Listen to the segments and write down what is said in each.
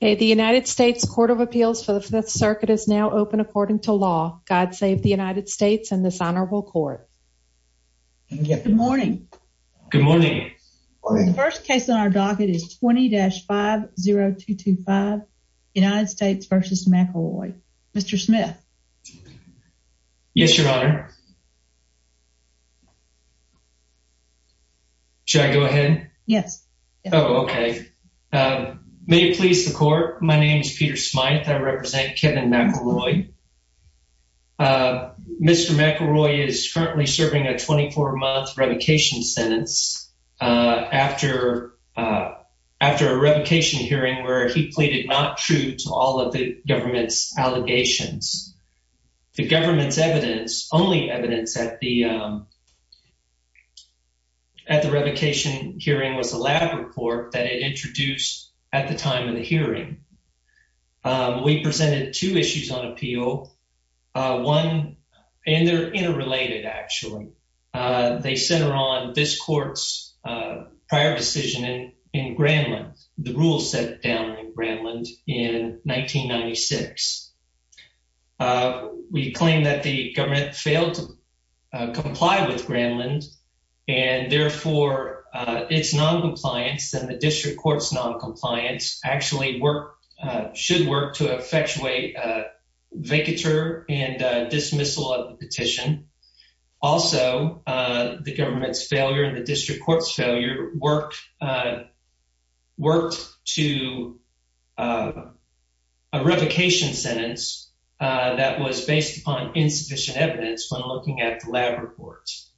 The United States Court of Appeals for the Fifth Circuit is now open according to law. God save the United States and this honorable court. Good morning. Good morning. The first case on our docket is 20-50225, United States v. McElroy. Mr. Smith. Yes, Your Honor. Should I go ahead? Yes. Oh, okay. May it please the court, my name is Peter Smyth. I represent Kevin McElroy. Mr. McElroy is currently serving a 24-month revocation sentence after a revocation hearing where he pleaded not true to all of the government's allegations. The government's evidence, only evidence at the revocation hearing was a lab report that it introduced at the time of the hearing. We presented two issues on appeal. One, and they're interrelated, actually. They center on this court's prior decision in Granlund, the rules set down in Granlund in 1996. We claim that the government failed to comply with Granlund, and therefore its noncompliance and the district court's noncompliance actually should work to effectuate a vacatur and dismissal of the petition. Also, the government's failure and the district court's failure worked to a revocation sentence that was based upon insufficient evidence when looking at the lab reports.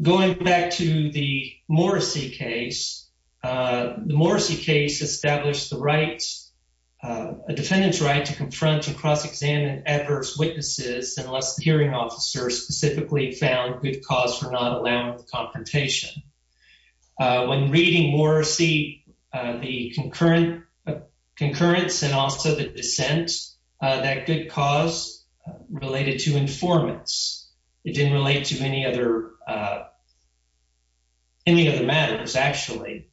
Going back to the Morrissey case, the Morrissey case established the right, a defendant's right to confront and cross-examine adverse witnesses unless the hearing officer specifically found good cause for not allowing the confrontation. When reading Morrissey, the concurrence and also the dissent, that good cause related to informants. It didn't relate to any other matters, actually.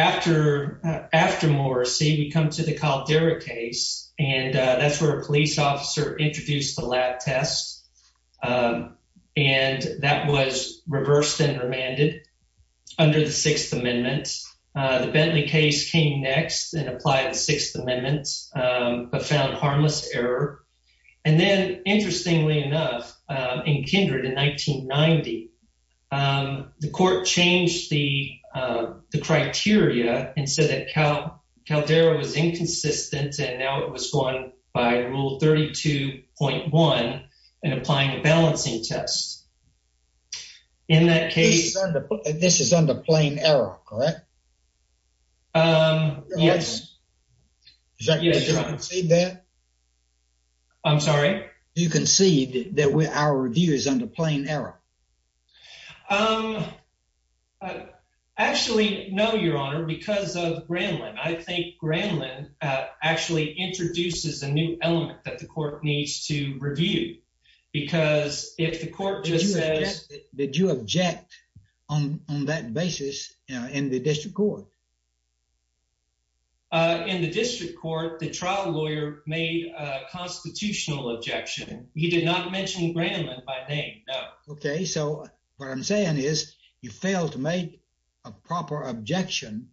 After Morrissey, we come to the Caldera case, and that's where a police officer introduced the lab tests, and that was reversed and remanded under the Sixth Amendment. The Bentley case came next and applied the Sixth Amendment but found harmless error. And then, interestingly enough, in Kindred in 1990, the court changed the criteria and said that Caldera was inconsistent, and now it was going by Rule 32.1 and applying a balancing test. This is under plain error, correct? Yes. Did you concede that? I'm sorry? Did you concede that our review is under plain error? Actually, no, Your Honor, because of Granlin. I think Granlin actually introduces a new element that the court needs to review, because if the court just says… Did you object on that basis in the district court? In the district court, the trial lawyer made a constitutional objection. He did not mention Granlin by name, no. Okay, so what I'm saying is you failed to make a proper objection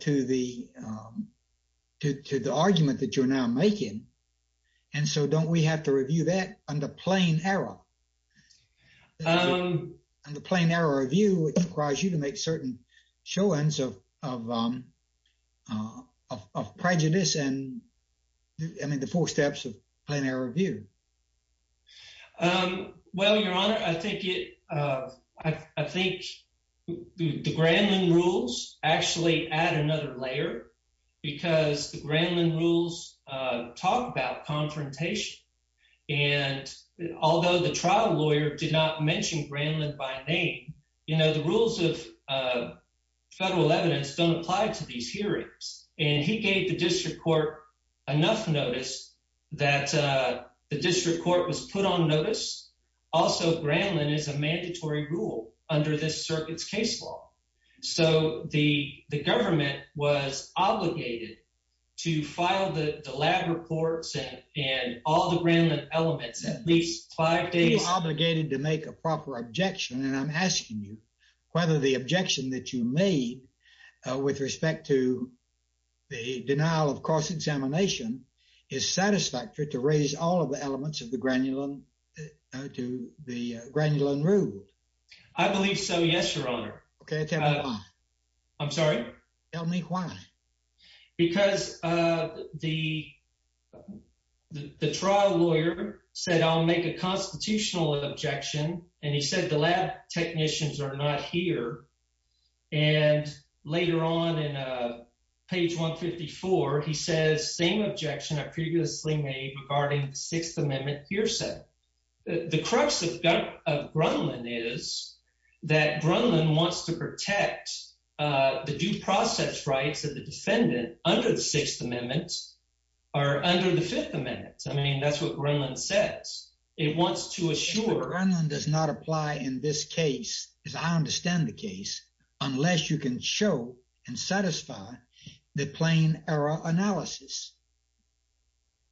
to the argument that you're now making, and so don't we have to review that under plain error? Under plain error review, it requires you to make certain showings of prejudice and, I mean, the four steps of plain error review. Well, Your Honor, I think the Granlin rules actually add another layer, because the Granlin rules talk about confrontation, and although the trial lawyer did not mention Granlin by name, the rules of federal evidence don't apply to these hearings. And he gave the district court enough notice that the district court was put on notice. Also, Granlin is a mandatory rule under this circuit's case law, so the government was obligated to file the lab reports and all the Granlin elements at least five days… You were obligated to make a proper objection, and I'm asking you whether the objection that you made with respect to the denial of cross-examination is satisfactory to raise all of the elements of the Granlin rule. I believe so, yes, Your Honor. Okay, tell me why. I'm sorry? Tell me why. Because the trial lawyer said, I'll make a constitutional objection, and he said the lab technicians are not here, and later on in page 154, he says, same objection I previously made regarding the Sixth Amendment hearsay. The crux of Granlin is that Granlin wants to protect the due process rights of the defendant under the Sixth Amendment or under the Fifth Amendment. I mean, that's what Granlin says. Granlin does not apply in this case, as I understand the case, unless you can show and satisfy the plain error analysis.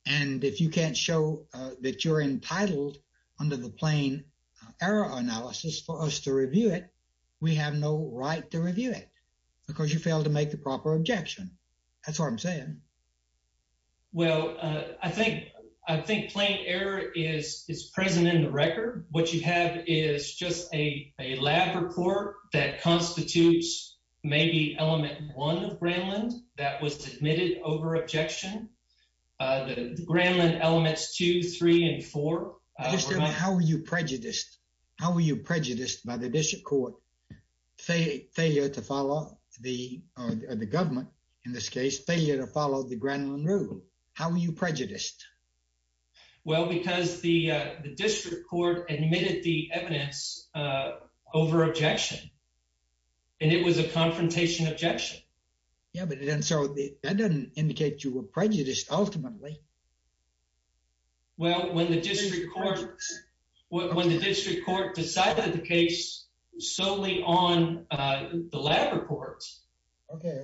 And if you can't show that you're entitled under the plain error analysis for us to review it, we have no right to review it because you failed to make the proper objection. That's what I'm saying. Well, I think plain error is present in the record. What you have is just a lab report that constitutes maybe element one of Granlin that was admitted over objection. Granlin elements two, three, and four. How were you prejudiced? How were you prejudiced by the district court failure to follow the government in this case failure to follow the Granlin rule? How were you prejudiced? Well, because the district court admitted the evidence over objection. And it was a confrontation objection. Yeah, but then so that doesn't indicate you were prejudiced ultimately. Well, when the district court when the district court decided the case solely on the lab reports. Okay.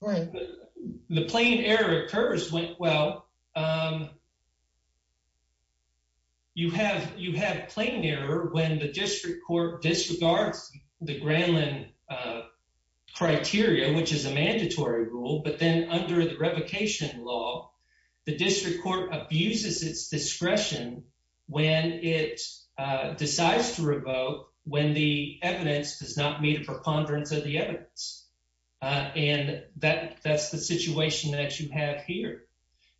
Right. The plain error occurs when well. You have you have plain error when the district court disregards the Granlin criteria, which is a mandatory rule, but then under the revocation law. The district court abuses its discretion when it decides to revoke when the evidence does not meet a preponderance of the evidence. And that that's the situation that you have here.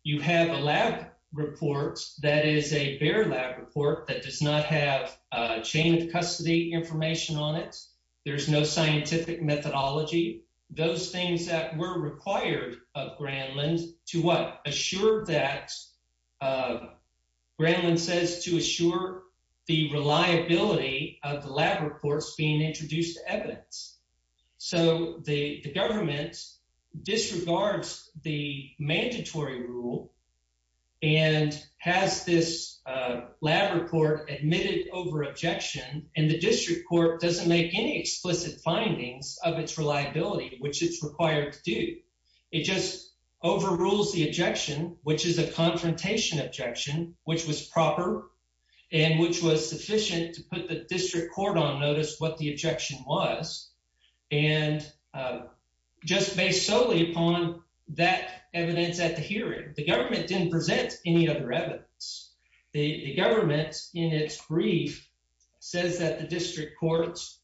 You have a lab report that is a bare lab report that does not have chained custody information on it. There is no scientific methodology. Those things that were required of Granlin to what assured that Granlin says to assure the reliability of the lab reports being introduced evidence. So the government disregards the mandatory rule and has this lab report admitted over objection. And the district court doesn't make any explicit findings of its reliability, which it's required to do. It just overrules the objection, which is a confrontation objection, which was proper and which was sufficient to put the district court on notice what the objection was. And just based solely upon that evidence at the hearing, the government didn't present any other evidence. The government, in its brief, says that the district courts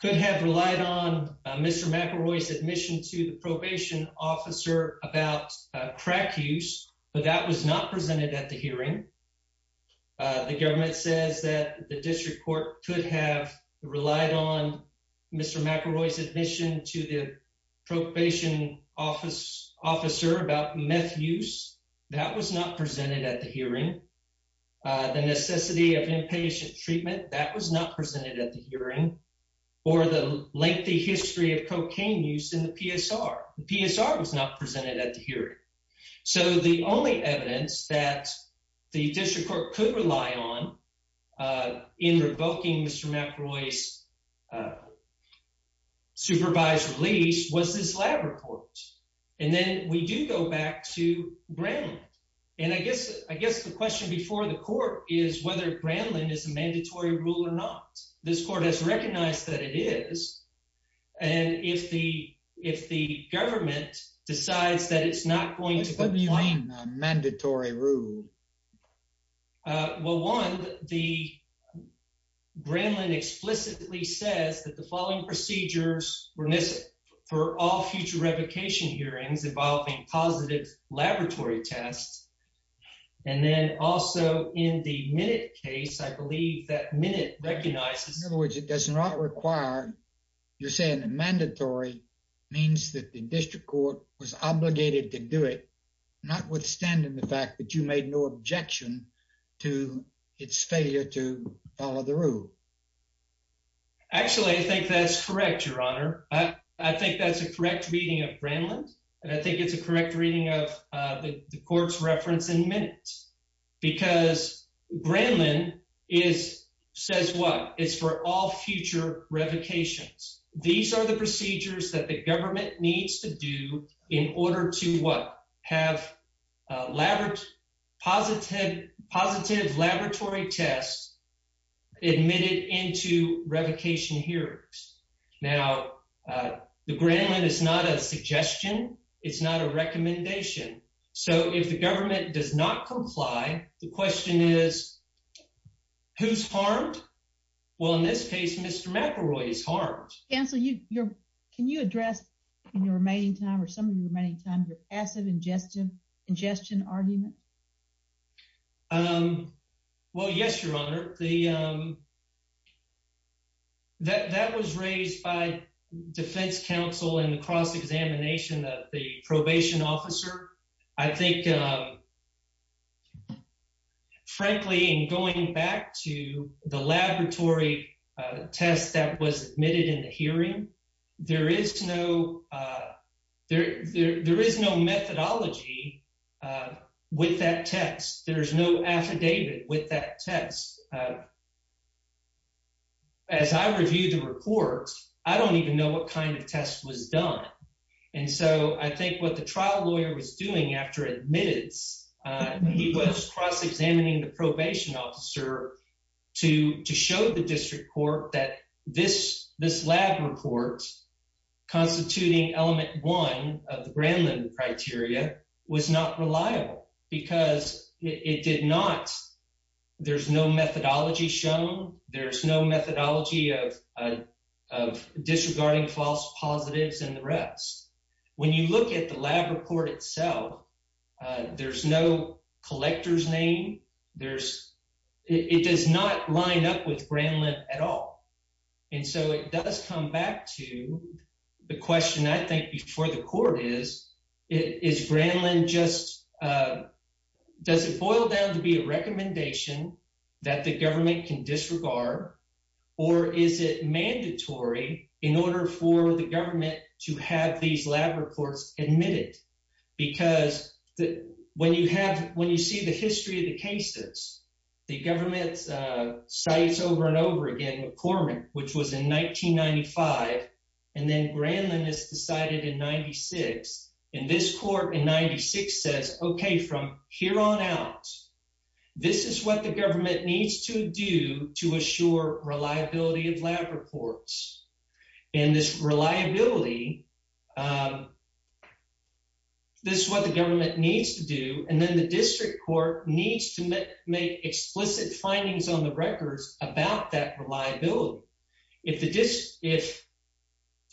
could have relied on Mr. McElroy's admission to the probation officer about crack use, but that was not presented at the hearing. The government says that the district court could have relied on Mr. McElroy's admission to the probation office officer about meth use. That was not presented at the hearing. The necessity of inpatient treatment that was not presented at the hearing or the lengthy history of cocaine use in the PSR. The PSR was not presented at the hearing. So the only evidence that the district court could rely on in revoking Mr. McElroy's supervised release was this lab report. And then we do go back to Brandlin. And I guess the question before the court is whether Brandlin is a mandatory rule or not. This court has recognized that it is. And if the if the government decides that it's not going to put mandatory rule. Well, one, the Brandlin explicitly says that the following procedures were missing for all future revocation hearings involving positive laboratory tests. And then also in the minute case, I believe that minute recognizes which it does not require. You're saying a mandatory means that the district court was obligated to do it, notwithstanding the fact that you made no objection to its failure to follow the rule. Actually, I think that's correct, Your Honor. I think that's a correct reading of Brandlin. And I think it's a correct reading of the court's reference in minutes because Brandlin is says what is for all future revocations. These are the procedures that the government needs to do in order to what have labored positive, positive laboratory tests admitted into revocation hearings. Now, the Brandlin is not a suggestion. It's not a recommendation. So if the government does not comply, the question is, who's harmed? Well, in this case, Mr. McElroy is harmed. Cancel your. Can you address in your remaining time or some of the remaining time your acid ingestion ingestion argument? Well, yes, Your Honor, the. That was raised by defense counsel in the cross examination of the probation officer, I think. Frankly, in going back to the laboratory test that was admitted in the hearing, there is no there. There is no methodology with that test. There is no affidavit with that test. As I review the report, I don't even know what kind of test was done. And so I think what the trial lawyer was doing after admitted he was cross examining the probation officer to to show the district court that this this lab report constituting element one of the Brandlin criteria was not reliable because it did not. There's no methodology shown. There's no methodology of of disregarding false positives and the rest. When you look at the lab report itself, there's no collector's name. There's it does not line up with Brandlin at all. And so it does come back to the question, I think, before the court is, is Brandlin just does it boil down to be a recommendation that the government can disregard or is it mandatory in order for the government to have these lab reports admitted? Because when you have when you see the history of the cases, the government's sites over and over again with Corman, which was in 1995, and then Brandlin is decided in 96. And this court in 96 says, OK, from here on out, this is what the government needs to do to assure reliability of lab reports and this reliability. This is what the government needs to do. And then the district court needs to make explicit findings on the records about that reliability. If the if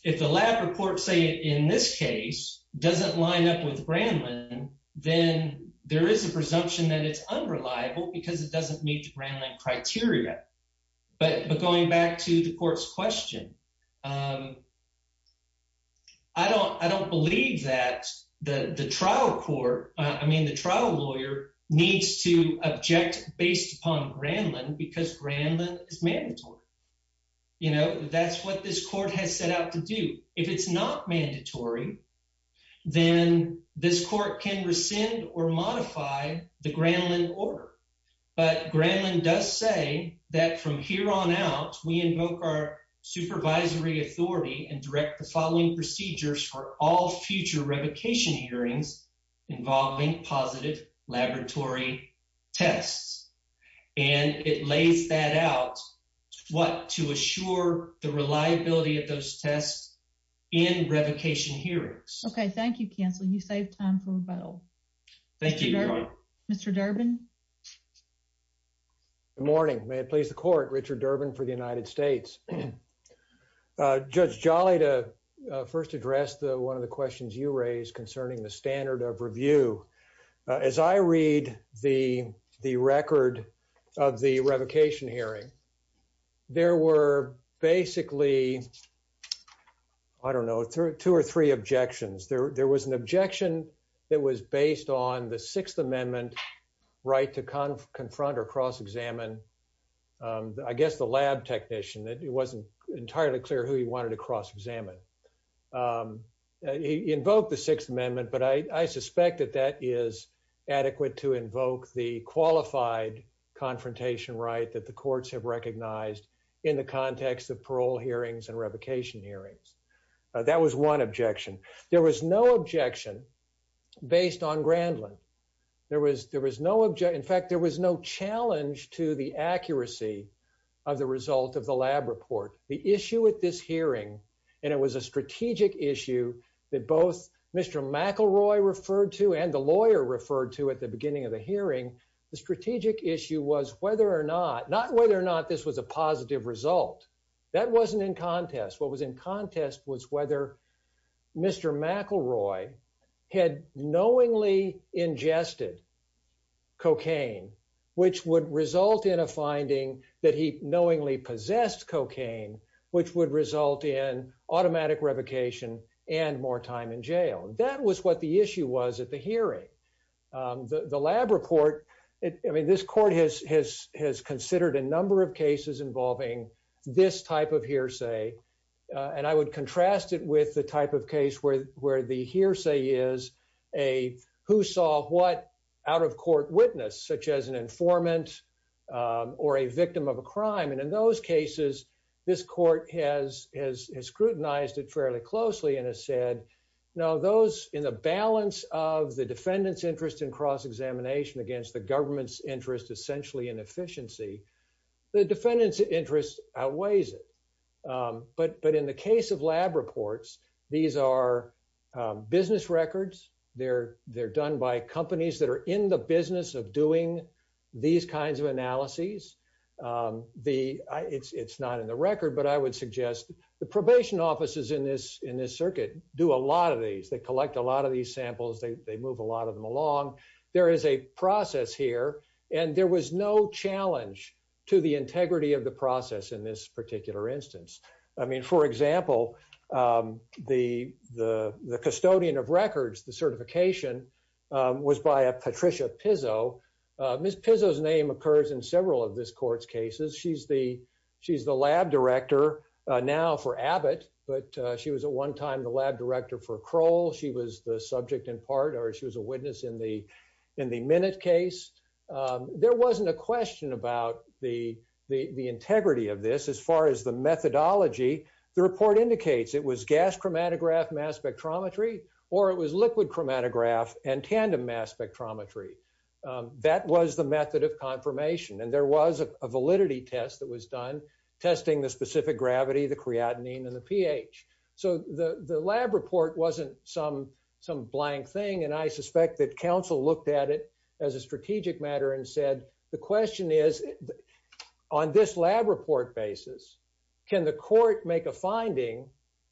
if the lab report, say in this case, doesn't line up with Brandlin, then there is a presumption that it's unreliable because it doesn't meet the Brandlin criteria. But going back to the court's question, I don't I don't believe that the trial court I mean, the trial lawyer needs to object based upon Brandlin because Brandlin is mandatory. You know, that's what this court has set out to do. If it's not mandatory, then this court can rescind or modify the Brandlin order. But Brandlin does say that from here on out, we invoke our supervisory authority and direct the following procedures for all future revocation hearings involving positive laboratory tests. And it lays that out what to assure the reliability of those tests in revocation hearings. OK, thank you, counsel. You save time for rebuttal. Thank you, Mr. Durbin. Good morning. May it please the court. Richard Durbin for the United States. Judge Jolly to first address the one of the questions you raised concerning the standard of review. As I read the the record of the revocation hearing, there were basically, I don't know, two or three objections. There was an objection that was based on the Sixth Amendment right to confront or cross examine, I guess, the lab technician that it wasn't entirely clear who he wanted to cross examine. He invoked the Sixth Amendment, but I suspect that that is adequate to invoke the qualified confrontation right that the courts have recognized in the context of parole hearings and revocation hearings. That was one objection. There was no objection based on Grandlin. There was there was no object. In fact, there was no challenge to the accuracy of the result of the lab report. The issue with this hearing, and it was a strategic issue that both Mr. McElroy referred to and the lawyer referred to at the beginning of the hearing. The strategic issue was whether or not not whether or not this was a positive result. That wasn't in contest. What was in contest was whether Mr. McElroy had knowingly ingested cocaine, which would result in a finding that he knowingly possessed cocaine, which would result in automatic revocation and more time in jail. That was what the issue was at the hearing. The lab report. I mean, this court has has has considered a number of cases involving this type of hearsay, and I would contrast it with the type of case where where the hearsay is a who saw what out of court witness such as an informant or a victim of a crime. And in those cases, this court has has scrutinized it fairly closely and has said, no, those in the balance of the defendant's interest in cross examination against the government's interest essentially in efficiency. The defendant's interest outweighs it. But but in the case of lab reports. These are business records, they're, they're done by companies that are in the business of doing these kinds of analyses. The it's it's not in the record, but I would suggest the probation offices in this in this circuit do a lot of these they collect a lot of these samples they move a lot of them along. There is a process here, and there was no challenge to the integrity of the process in this particular instance. I mean, for example, the, the, the custodian of records the certification. Was by a Patricia Pizzo Miss Pizzo his name occurs in several of this courts cases she's the she's the lab director now for Abbott, but she was at one time the lab director for Kroll she was the subject in part or she was a witness in the in the minute case. There wasn't a question about the, the, the integrity of this as far as the methodology. The report indicates it was gas chromatograph mass spectrometry, or it was liquid chromatograph and tandem mass spectrometry. That was the method of confirmation and there was a validity test that was done testing the specific gravity the creatinine and the pH. So, the, the lab report wasn't some some blank thing and I suspect that council looked at it as a strategic matter and said, The question is, on this lab report basis. Can the court make a finding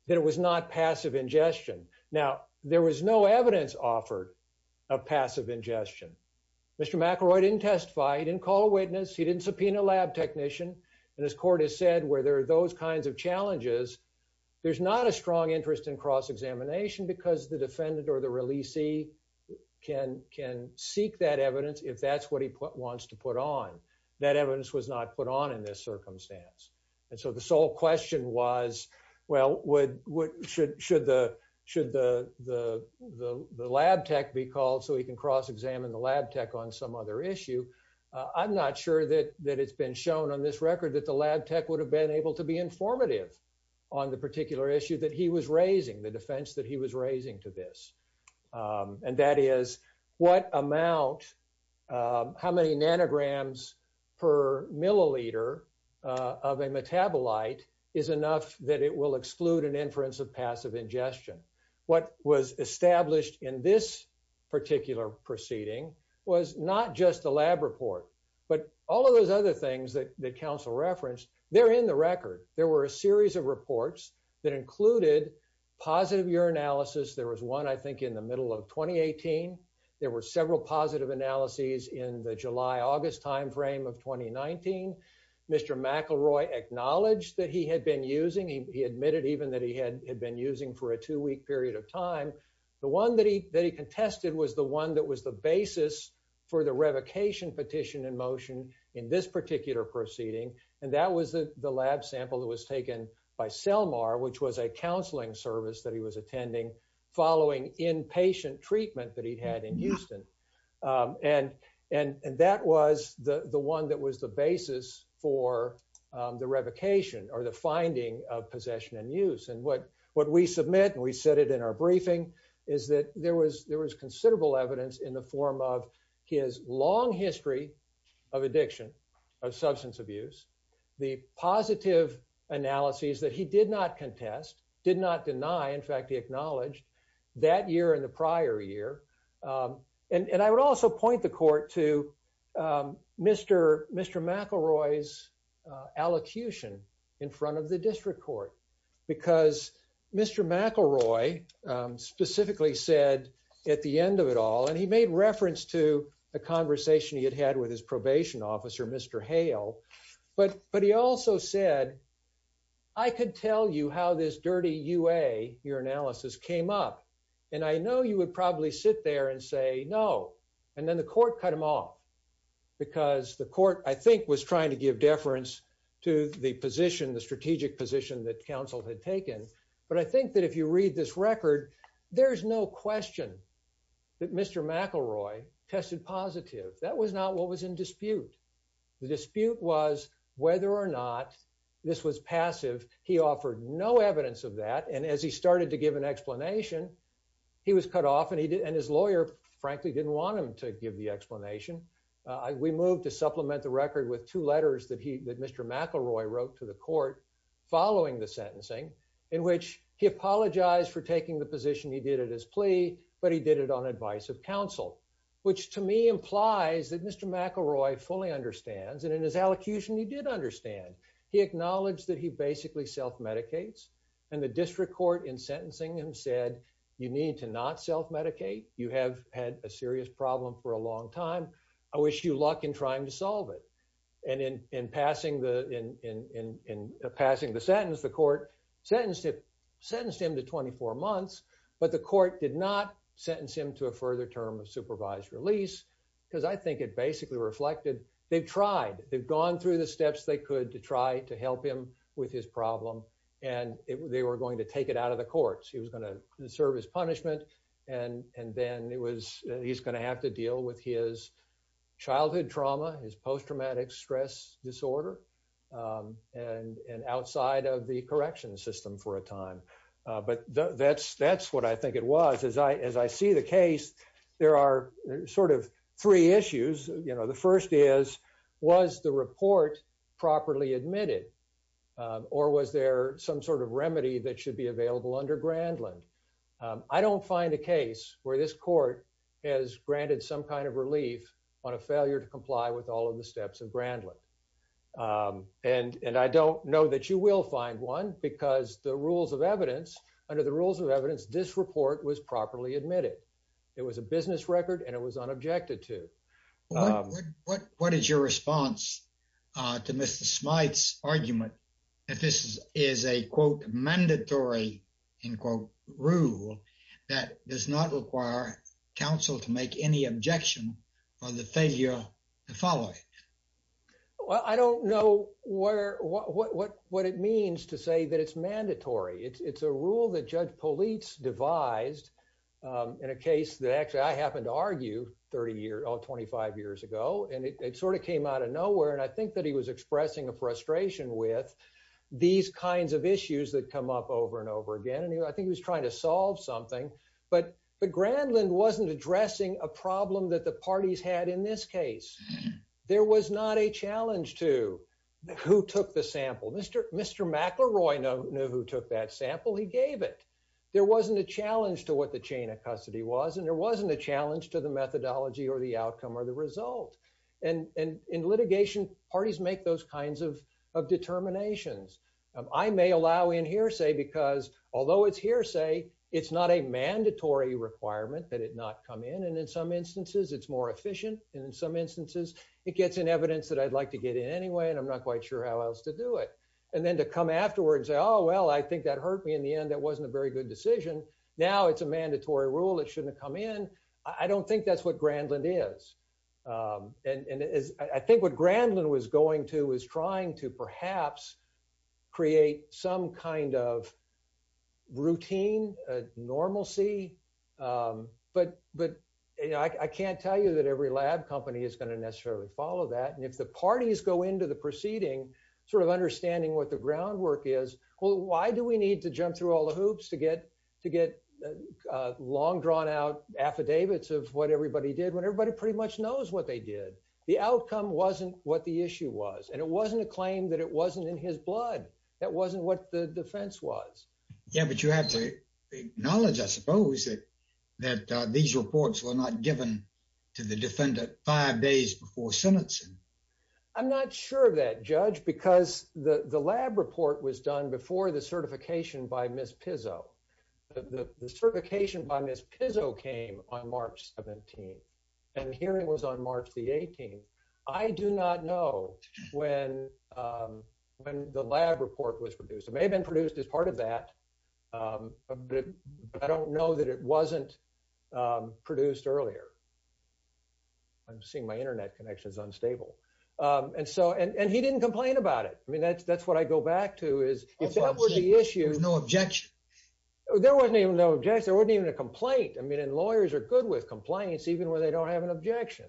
that it was not passive ingestion. Now, there was no evidence offered a passive ingestion. Mr McElroy didn't testify he didn't call a witness he didn't subpoena lab technician, and his court has said where there are those kinds of challenges. There's not a strong interest in cross examination because the defendant or the release he can can seek that evidence if that's what he wants to put on that evidence was not put on in this circumstance. And so the sole question was, well, what should should the should the, the, the lab tech be called so he can cross examine the lab tech on some other issue. I'm not sure that that it's been shown on this record that the lab tech would have been able to be informative on the particular issue that he was raising the defense that he was raising to this. And that is what amount. How many nanograms per milliliter of a metabolite is enough that it will exclude an inference of passive ingestion. What was established in this particular proceeding was not just a lab report, but all of those other things that the council referenced there in the There were several positive analyses in the July, August timeframe of 2019. Mr McElroy acknowledged that he had been using he admitted even that he had been using for a two week period of time. The one that he that he contested was the one that was the basis for the revocation petition in motion in this particular proceeding. And that was the the lab sample that was taken by Selmar which was a counseling service that he was attending following inpatient treatment that he had in Houston. And, and, and that was the the one that was the basis for the revocation or the finding of possession and use and what what we submit and we said it in our briefing is that there was there was considerable evidence in the form of his long history of addiction. Of substance abuse, the positive analyses that he did not contest did not deny. In fact, he acknowledged that year in the prior year. And I would also point the court to Mr. Mr McElroy is allocution in front of the district court, because Mr McElroy specifically said at the end of it all and he made reference to a conversation he had had with his probation officer, Mr Hale, but but he also said, I could tell you how this dirty ua your analysis came up. And I know you would probably sit there and say no. And then the court cut them off, because the court, I think, was trying to give deference to the position the strategic position that council had taken. But I think that if you read this record. There's no question that Mr McElroy tested positive that was not what was in dispute. The dispute was whether or not this was passive, he offered no evidence of that and as he started to give an explanation. He was cut off and he did and his lawyer, frankly, didn't want him to give the explanation. I we moved to supplement the record with two letters that he that Mr McElroy wrote to the court. Following the sentencing, in which he apologized for taking the position he did it as plea, but he did it on advice of counsel, which to me implies that Mr McElroy fully understands and in his allocution he did understand. He acknowledged that he basically self medicates and the district court in sentencing him said, you need to not self medicate, you have had a serious problem for a long time. I wish you luck in trying to solve it. And in, in passing the in passing the sentence the court sentenced sentenced him to 24 months, but the court did not sentence him to a further term of supervised release, because I think it basically reflected, they've tried, they've gone through the steps they could to try to help him with his problem, and they were going to take it out of the courts, he was going to serve his punishment. And, and then it was, he's going to have to deal with his childhood trauma is post traumatic stress disorder. And outside of the correction system for a time, but that's that's what I think it was as I as I see the case, there are sort of three issues, you know, the first is, was the report properly admitted, or was there some sort of remedy that should be available under Grandland. I don't find a case where this court has granted some kind of relief on a failure to comply with all of the steps of Grandland. And, and I don't know that you will find one because the rules of evidence under the rules of evidence this report was properly admitted. It was a business record and it was unobjected to. What, what is your response to Mr smites argument. If this is a quote mandatory in quote rule that does not require counsel to make any objection on the failure to follow. Well, I don't know where what what what it means to say that it's mandatory it's a rule that judge police devised in a case that actually I happened to argue 30 years or 25 years ago and it sort of came out of nowhere and I think that he was expressing a frustration with these kinds of issues that come up over and over again and I think he was trying to solve something, but the Grandland wasn't addressing a problem that the parties had in this case. There was not a challenge to who took the sample Mr. Mr McElroy know who took that sample he gave it. There wasn't a challenge to what the chain of custody was and there wasn't a challenge to the methodology or the outcome or the result. And in litigation parties make those kinds of determinations. I may allow in here say because although it's hearsay, it's not a mandatory requirement that it not come in and in some instances it's more efficient, and in some instances, it gets in evidence that I'd like to get in anyway and I'm not quite sure how else to do it. And then to come afterwards. Oh, well, I think that hurt me in the end that wasn't a very good decision. Now it's a mandatory rule it shouldn't come in. I don't think that's what Grandland is. And as I think what Grandland was going to is trying to perhaps create some kind of routine normalcy. But, but I can't tell you that every lab company is going to necessarily follow that and if the parties go into the proceeding, sort of understanding what the groundwork is, why do we need to jump through all the hoops to get to get long drawn out affidavits of what that these reports were not given to the defendant five days before sentencing. I'm not sure that judge because the lab report was done before the certification by Miss Pizzo. The certification by Miss Pizzo came on March 17. And here it was on March the 18th. I do not know when, when the lab report was produced may have been produced as part of that. I don't know that it wasn't produced earlier. I'm seeing my internet connections unstable. And so and he didn't complain about it. I mean that's that's what I go back to is, if that were the issue no objection. There wasn't even no objection there wasn't even a complaint I mean and lawyers are good with complaints, even when they don't have an objection.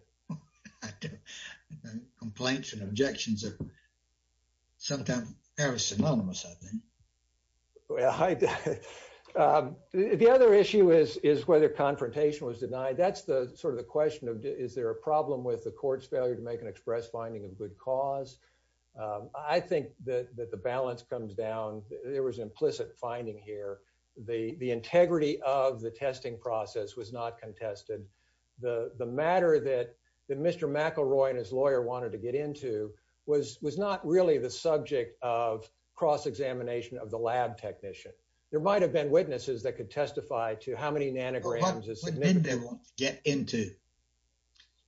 Complaints and objections. Sometime, every single one of us. Hi. The other issue is, is whether confrontation was denied that's the sort of the question of, is there a problem with the court's failure to make an express finding of good cause. I think that the balance comes down, there was implicit finding here, the, the integrity of the testing process was not contested. The, the matter that the Mr McElroy and his lawyer wanted to get into was was not really the subject of cross examination of the lab technician, there might have been witnesses that could testify to how many nanograms is get into.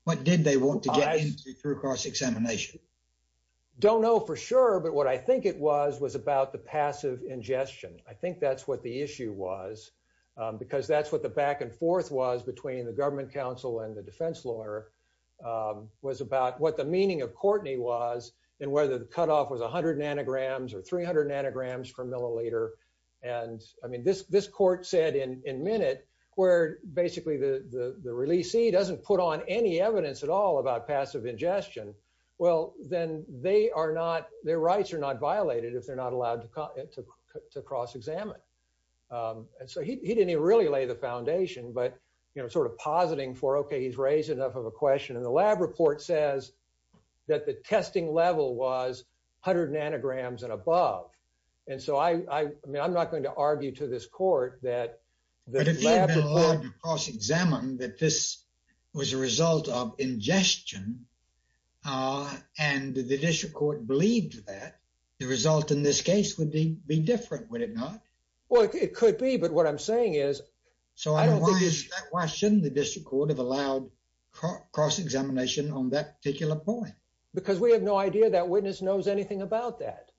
What did they want to get through cross examination. Don't know for sure but what I think it was was about the passive ingestion. I think that's what the issue was, because that's what the back and forth was between the government council and the defense lawyer was about what the meaning of Courtney was, and whether the cutoff was 100 nanograms or 300 nanograms per milliliter. And I mean this this court said in a minute, where basically the release he doesn't put on any evidence at all about passive ingestion. Well, then they are not their rights are not violated if they're not allowed to cross examine. And so he didn't really lay the foundation but you know sort of positing for okay he's raised enough of a question and the lab report says that the testing level was hundred nanograms and above. And so I mean I'm not going to argue to this court that the cross examine that this was a result of ingestion. And the district court believed that the result in this case would be be different when it not. Well, it could be but what I'm saying is, so I don't think it's why shouldn't the district court of allowed cross examination on that particular point, because we have no idea that witness knows anything about that.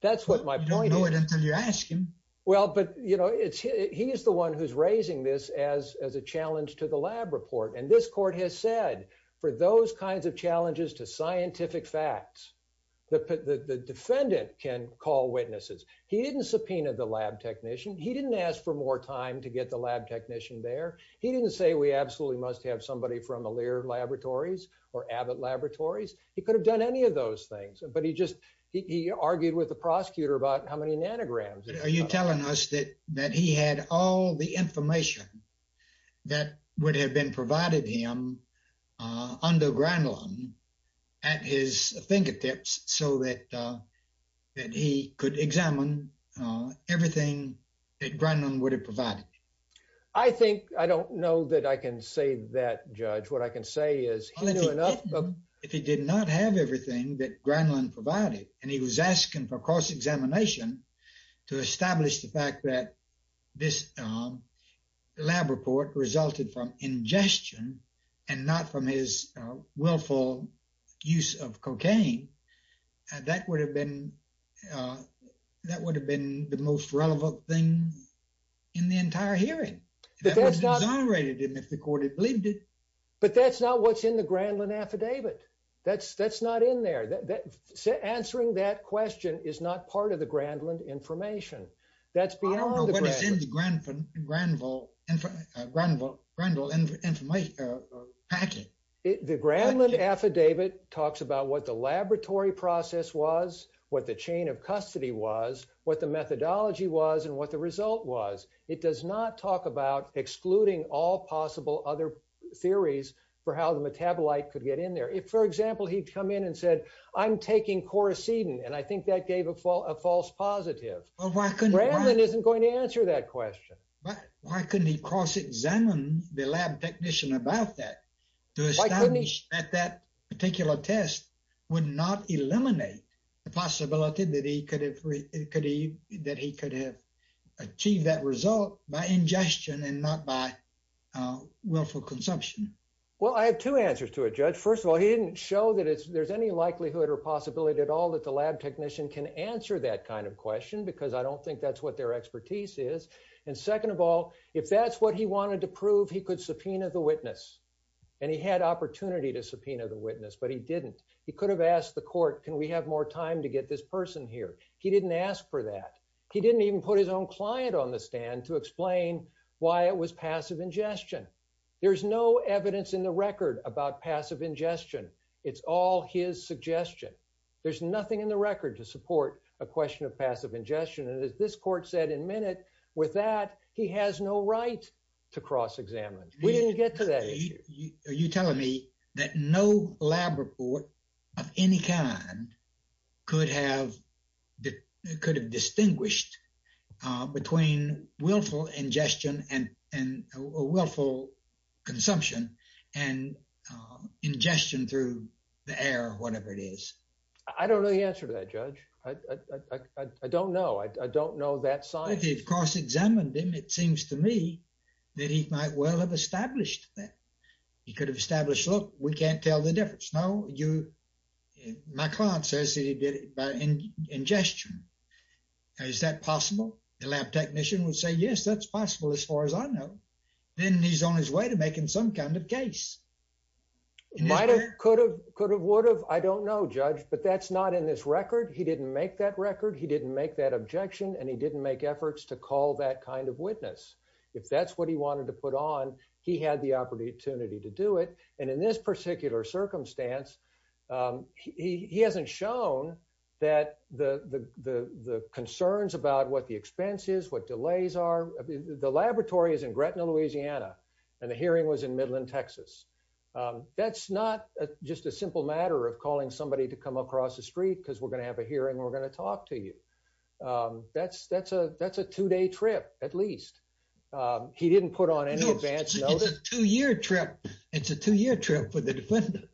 That's what my point you're asking. Well, but you know it's he is the one who's raising this as as a challenge to the lab report and this court has said for those kinds of challenges to scientific facts. The defendant can call witnesses. He didn't subpoena the lab technician he didn't ask for more time to get the lab technician there. He didn't say we absolutely must have somebody from a layer laboratories or Abbott laboratories, he could have done any of those I think I don't know that I can say that judge what I can say is enough, but if he did not have everything that Gremlin provided, and he was asking for cross examination to establish the fact that this lab report resulted from ingestion, and not from his willful use of cocaine. That would have been. That would have been the most relevant thing in the entire hearing, but that's not rated him if the court had believed it, but that's not what's in the Gremlin affidavit, that's that's not in there that answering that question is not part of the Gremlin information. That's beyond the ground from Granville, and from Granville grandel information packet is the Gremlin affidavit talks about what the laboratory process was what the chain of custody was with the methodology was and what the result was, it does not talk about excluding all possible other theories for how the metabolite could get in there if for example he'd come in and said, I'm taking course Eden and I think that gave a false a false positive. Well, why couldn't Gremlin isn't going to answer that question, but why couldn't he cross examine the lab technician about that. At that particular test would not eliminate the possibility that he could have, could he that he could have achieved that result by ingestion and not by willful consumption. Well, I have two answers to a judge first of all he didn't show that it's there's any likelihood or possibility at all that the lab technician can answer that kind of question because I don't think that's what their expertise is. And second of all, if that's what he wanted to prove he could subpoena the witness, and he had opportunity to subpoena the witness but he didn't, he could have asked the court, can we have more time to get this person here, he didn't ask for that. He didn't even put his own client on the stand to explain why it was passive ingestion. There's no evidence in the record about passive ingestion. It's all his suggestion. There's nothing in the record to support a question of passive ingestion and as this court said in minute. With that, he has no right to cross examine, we didn't get to that. Are you telling me that no lab report of any kind, could have that could have distinguished between willful ingestion and and willful consumption and ingestion through the air, whatever it is, I don't know the answer to that judge. I don't know I don't know that side of course examined him it seems to me that he might well have established that he could have established look, we can't tell the difference. My client says he did it by ingestion. Is that possible, the lab technician would say yes that's possible as far as I know, then he's on his way to making some kind of case might have could have could have would have I don't know judge but that's not in this record he didn't make that record he didn't make that objection and he didn't make efforts to call that kind of witness. If that's what he wanted to put on. He had the opportunity to do it. And in this particular circumstance, he hasn't shown that the the the concerns about what the expenses what delays are the laboratory is in Gretna, Louisiana, and the hearing was in Midland, Texas. That's not just a simple matter of calling somebody to come across the street because we're going to have a hearing we're going to talk to you. That's, that's a, that's a two day trip, at least. He didn't put on a two year trip. It's a two year trip for the defendant.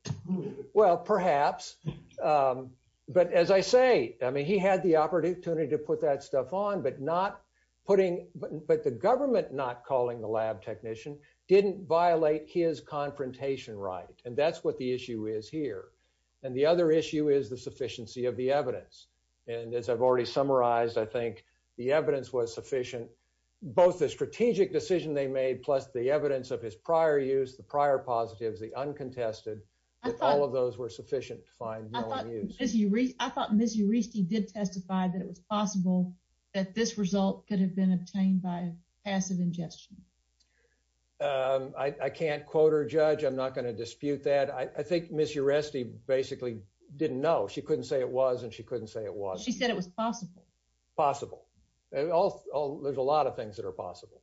Well, perhaps. But as I say, I mean he had the opportunity to put that stuff on but not putting, but the government not calling the lab technician didn't violate his confrontation right and that's what the issue is here. And the other issue is the sufficiency of the evidence. And as I've already summarized I think the evidence was sufficient, both the strategic decision they made plus the evidence of his prior use the prior positives the uncontested. All of those were sufficient to find. You read, I thought Miss you received did testify that it was possible that this result could have been obtained by passive ingestion. I can't quote or judge I'm not going to dispute that I think Miss you're resting, basically, didn't know she couldn't say it was and she couldn't say it was she said it was possible possible. There's a lot of things that are possible.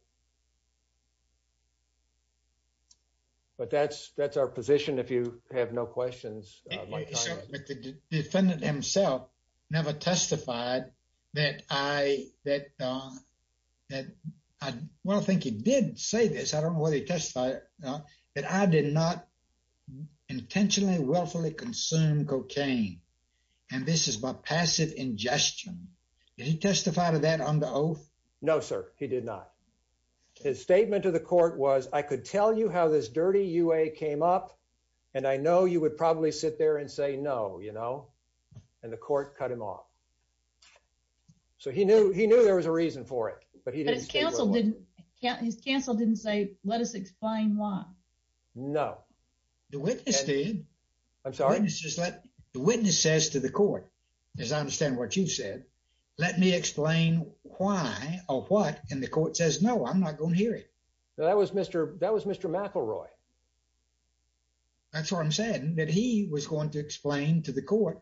But that's, that's our position if you have no questions. The defendant himself never testified that I, that, that I think he did say this I don't know what he testified that I did not intentionally willfully consume cocaine. And this is my passive ingestion. He testified to that on the oath. No, sir, he did not. His statement to the court was I could tell you how this dirty you a came up. And I know you would probably sit there and say no, you know, and the court cut him off. So he knew he knew there was a reason for it, but he didn't cancel didn't cancel didn't say, let us explain why. No, the witness did. I'm sorry, it's just like the witness says to the court, as I understand what you said, let me explain why or what and the court says no I'm not going to hear it. That was Mr. That was Mr McElroy. That's why I'm saying that he was going to explain to the court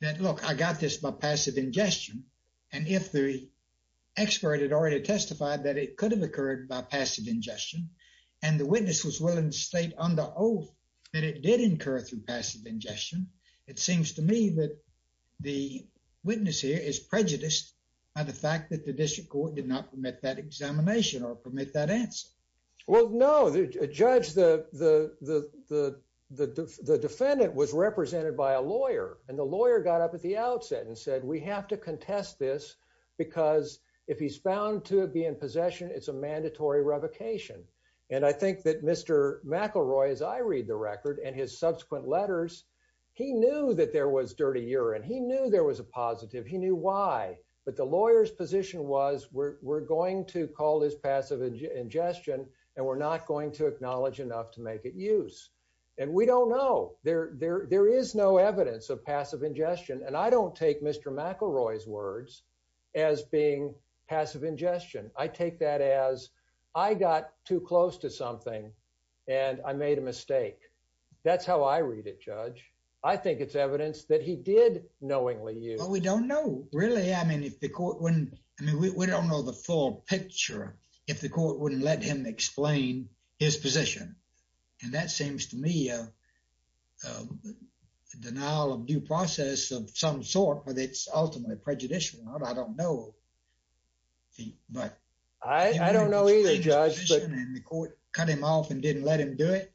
that look, I got this by passive ingestion. And if the expert had already testified that it could have occurred by passive ingestion. And the witness was willing to state on the oath that it did incur through passive ingestion. It seems to me that the witness here is prejudiced by the fact that the district court did not permit that examination or permit that answer. Well, no, the judge the, the, the, the, the defendant was represented by a lawyer, and the lawyer got up at the outset and said we have to contest this, because if he's found to be in possession it's a mandatory revocation. And I think that Mr. McElroy as I read the record and his subsequent letters. He knew that there was dirty urine he knew there was a positive he knew why, but the lawyers position was we're going to call this passive ingestion, and we're not going to acknowledge And I made a mistake. That's how I read it, Judge. I think it's evidence that he did knowingly you know we don't know, really I mean if the court when we don't know the full picture. If the court wouldn't let him explain his position. And that seems to me a denial of due process of some sort, but it's ultimately prejudicial I don't know. Right. I don't know either judge the court cut him off and didn't let him do it.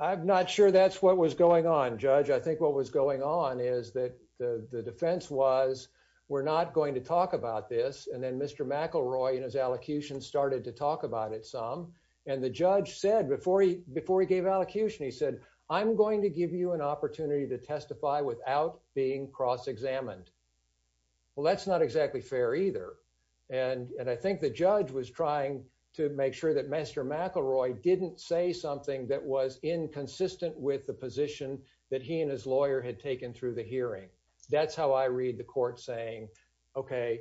I'm not sure that's what was going on, Judge, I think what was going on is that the defense was, we're not going to talk about this and then Mr McElroy and his allocution started to talk about it some, and the judge said before he before he gave allocation he said, I'm going to give you an opportunity to testify without being cross examined. Well, that's not exactly fair either. And I think the judge was trying to make sure that Mr McElroy didn't say something that was inconsistent with the position that he and his lawyer had taken through the hearing. That's how I read the court saying, Okay,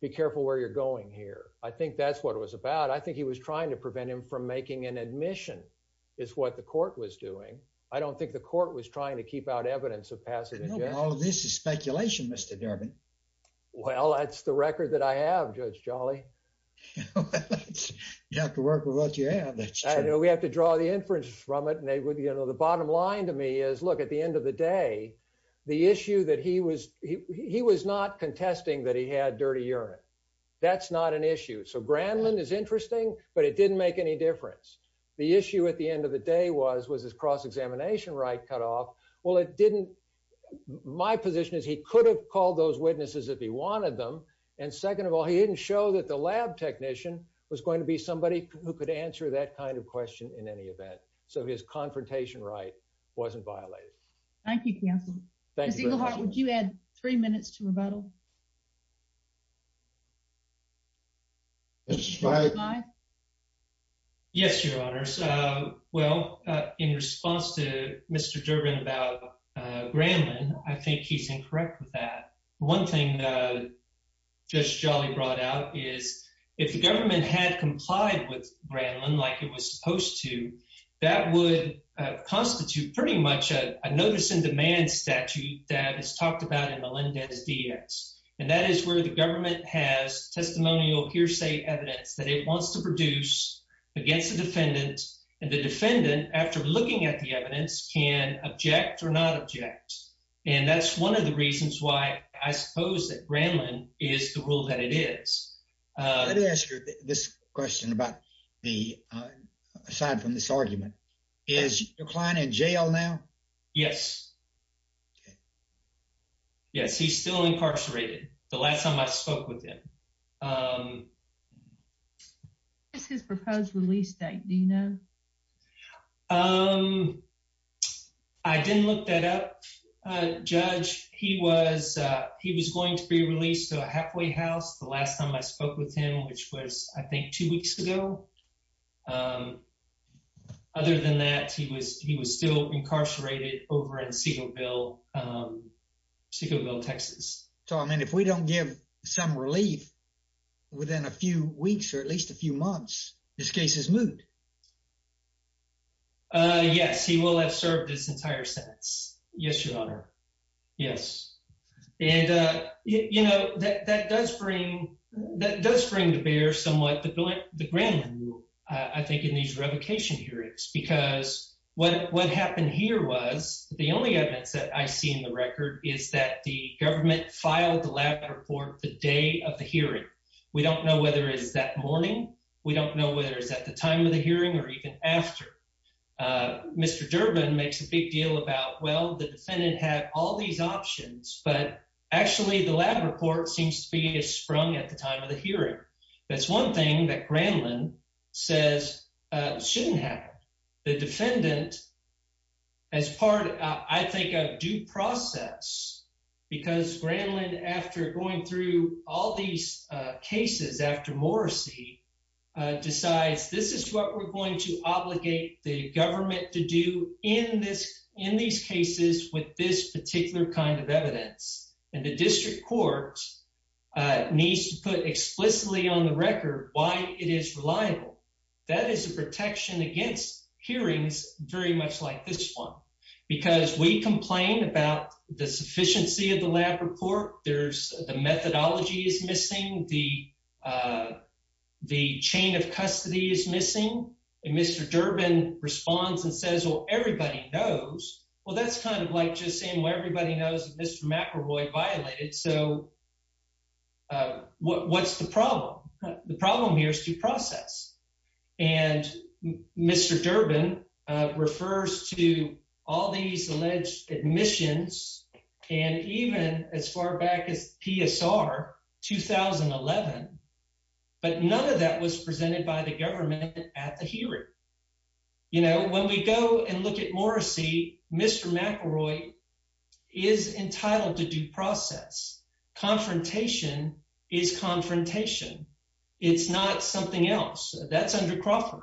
be careful where you're going here. I think that's what it was about. I think he was trying to prevent him from making an admission is what the court was doing. I don't think the court was trying to keep out evidence of passage. This is speculation, Mr Durbin. Well, that's the record that I have, Judge Jolly. You have to work with what you have. We have to draw the inference from it and they would you know the bottom line to me is look at the end of the day, the issue that he was he was not contesting that he had dirty urine. That's not an issue. So Granlin is interesting, but it didn't make any difference. The issue at the end of the day was was this cross examination right cut off. Well, it didn't. My position is he could have called those witnesses if he wanted them. And second of all, he didn't show that the lab technician was going to be somebody who could answer that kind of question in any event. So his confrontation right wasn't violated. Thank you. Thank you. Would you add three minutes to rebuttal. Yes, Your Honor. Well, in response to Mr Durbin about Granlin, I think he's incorrect with that. One thing that Judge Jolly brought out is if the government had complied with Granlin like it was supposed to, that would constitute pretty much a notice in demand statute that is talked about in Melendez DX. And that is where the government has testimonial hearsay evidence that it wants to produce against the defendant and the defendant after looking at the evidence can object or not object. And that's one of the reasons why I suppose that Granlin is the rule that it is. Let me ask you this question about the aside from this argument. Is your client in jail now? Yes. Yes, he's still incarcerated. The last time I spoke with him. His proposed release date, do you know? Um, I didn't look that up, Judge. He was he was going to be released to a halfway house. The last time I spoke with him, which was, I think, two weeks ago. Other than that, he was he was still incarcerated over in Segalville, Segalville, Texas. So, I mean, if we don't give some relief within a few weeks or at least a few months, this case is moved. Yes, he will have served his entire sentence. Yes, Your Honor. Yes. And, you know, that does bring that does bring to bear somewhat the grant. I think in these revocation hearings, because what what happened here was the only evidence that I see in the record is that the government filed the lab report the day of the hearing. We don't know whether it's that morning. We don't know whether it's at the time of the hearing or even after. Mr. Durbin makes a big deal about, well, the defendant had all these options, but actually the lab report seems to be a sprung at the time of the hearing. That's one thing that Granlin says shouldn't happen. The defendant, as part, I think, of due process, because Granlin, after going through all these cases after Morrissey, decides this is what we're going to obligate the government to do in this in these cases with this particular kind of evidence. And the district courts needs to put explicitly on the record why it is reliable. That is a protection against hearings very much like this one, because we complain about the sufficiency of the lab report. There's the methodology is missing. The the chain of custody is missing. And Mr. Durbin responds and says, well, everybody knows. Well, that's kind of like just saying, well, everybody knows Mr. McElroy violated. So what's the problem? The problem here is due process. And Mr. Durbin refers to all these alleged admissions and even as far back as PSR 2011. But none of that was presented by the government at the hearing. You know, when we go and look at Morrissey, Mr. McElroy is entitled to due process. Confrontation is confrontation. It's not something else that's under Crawford.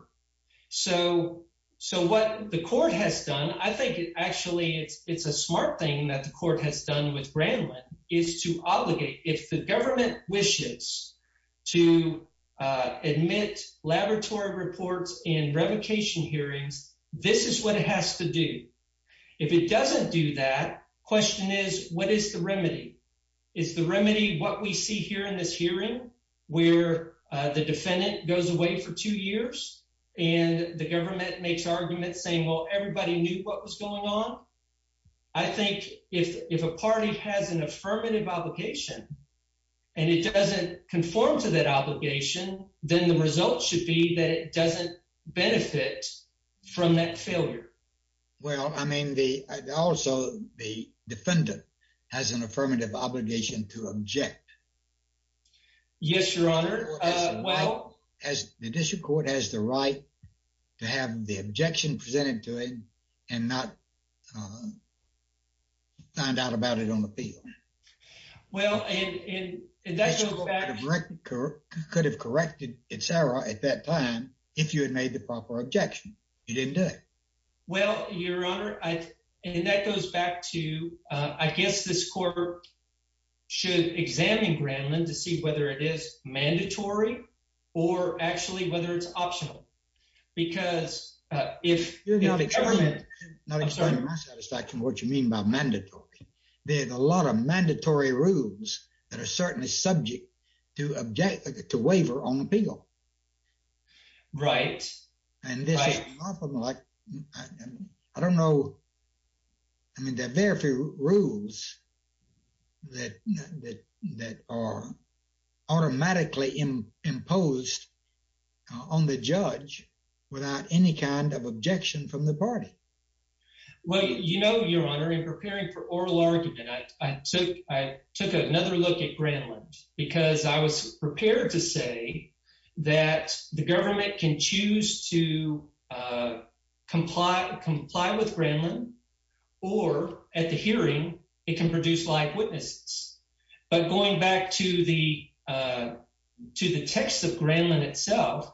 So so what the court has done, I think actually it's it's a smart thing that the court has done with Bramlin is to obligate if the government wishes to admit laboratory reports in revocation hearings. This is what it has to do. If it doesn't do that. Question is, what is the remedy? Is the remedy what we see here in this hearing where the defendant goes away for two years and the government makes arguments saying, well, everybody knew what was going on? I think if if a party has an affirmative obligation and it doesn't conform to that obligation, then the result should be that it doesn't benefit from that failure. Well, I mean, the also the defendant has an affirmative obligation to object. Yes, your honor. Well, as the district court has the right to have the objection presented to him and not. Find out about it on the field. Well, and that's correct. Could have corrected it, Sarah. At that time, if you had made the proper objection, you didn't do it. Well, your honor, I mean, that goes back to, I guess, this court should examine Bramlin to see whether it is mandatory or actually whether it's optional. Because if you're not a government, I'm sorry, my satisfaction what you mean by mandatory. There's a lot of mandatory rules that are certainly subject to object to waiver on appeal. Right. And this is like, I don't know. I mean, there are very few rules. That that that are automatically imposed on the judge without any kind of objection from the party. Well, you know, your honor, in preparing for oral argument, I took I took another look at Gremlin because I was prepared to say that the government can choose to comply, comply with Gremlin or at the hearing. It can produce live witnesses. But going back to the to the text of Gremlin itself,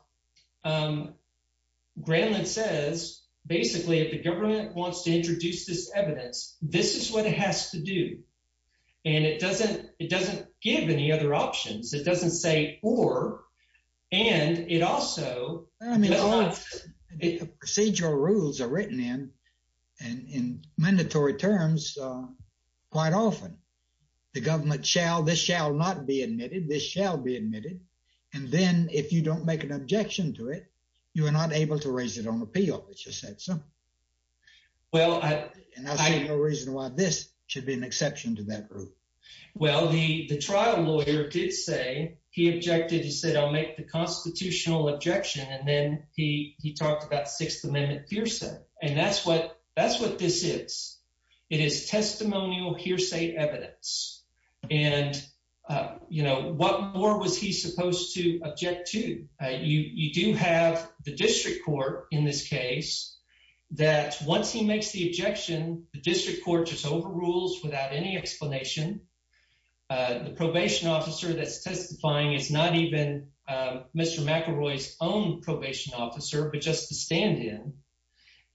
Gremlin says, basically, if the government wants to introduce this evidence, this is what it has to do. And it doesn't it doesn't give any other options. It doesn't say or. And it also procedural rules are written in and in mandatory terms quite often. The government shall this shall not be admitted. This shall be admitted. And then if you don't make an objection to it, you are not able to raise it on appeal. Well, I have no reason why this should be an exception to that group. Well, the the trial lawyer did say he objected. He said, I'll make the constitutional objection. And then he he talked about Sixth Amendment hearsay. And that's what that's what this is. It is testimonial hearsay evidence. And, you know, what more was he supposed to object to? You do have the district court in this case that once he makes the objection, the district court just overrules without any explanation. The probation officer that's testifying is not even Mr. McElroy's own probation officer, but just to stand in.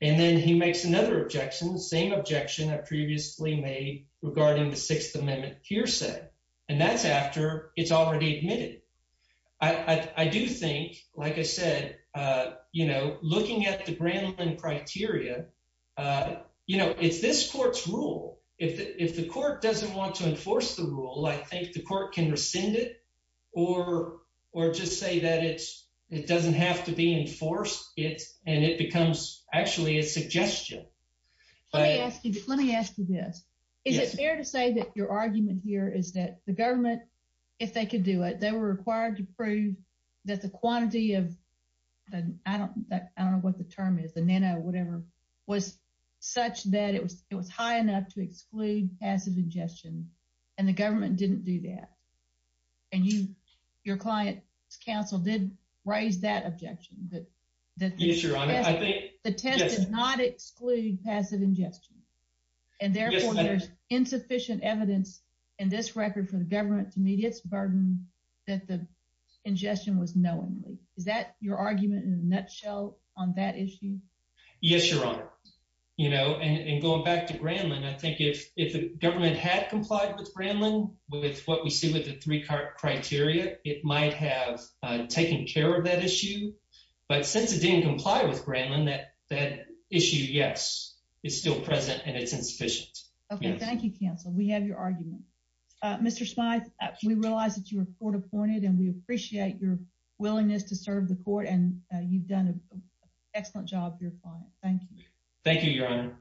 And then he makes another objection, the same objection that previously made regarding the Sixth Amendment hearsay. And that's after it's already admitted. I do think, like I said, you know, looking at the brand and criteria, you know, it's this court's rule. If the court doesn't want to enforce the rule, I think the court can rescind it or or just say that it's it doesn't have to be enforced. It's and it becomes actually a suggestion. Let me ask you this. Is it fair to say that your argument here is that the government, if they could do it, they were required to prove that the quantity of the I don't I don't know what the term is. The nano whatever was such that it was it was high enough to exclude passive ingestion and the government didn't do that. And you your client's counsel did raise that objection that that is your honor. I think the test does not exclude passive ingestion and therefore there's insufficient evidence in this record for the government to meet its burden that the ingestion was knowingly. Is that your argument in a nutshell on that issue? Yes, your honor. You know, and going back to Gremlin, I think if if the government had complied with Gremlin with what we see with the three criteria, it might have taken care of that issue. But since it didn't comply with Gremlin that that issue, yes, is still present and it's insufficient. OK, thank you. Cancel. We have your argument. Mr. Spies, we realize that you report appointed and we appreciate your willingness to serve the court. And you've done an excellent job. Thank you. Thank you, your honor.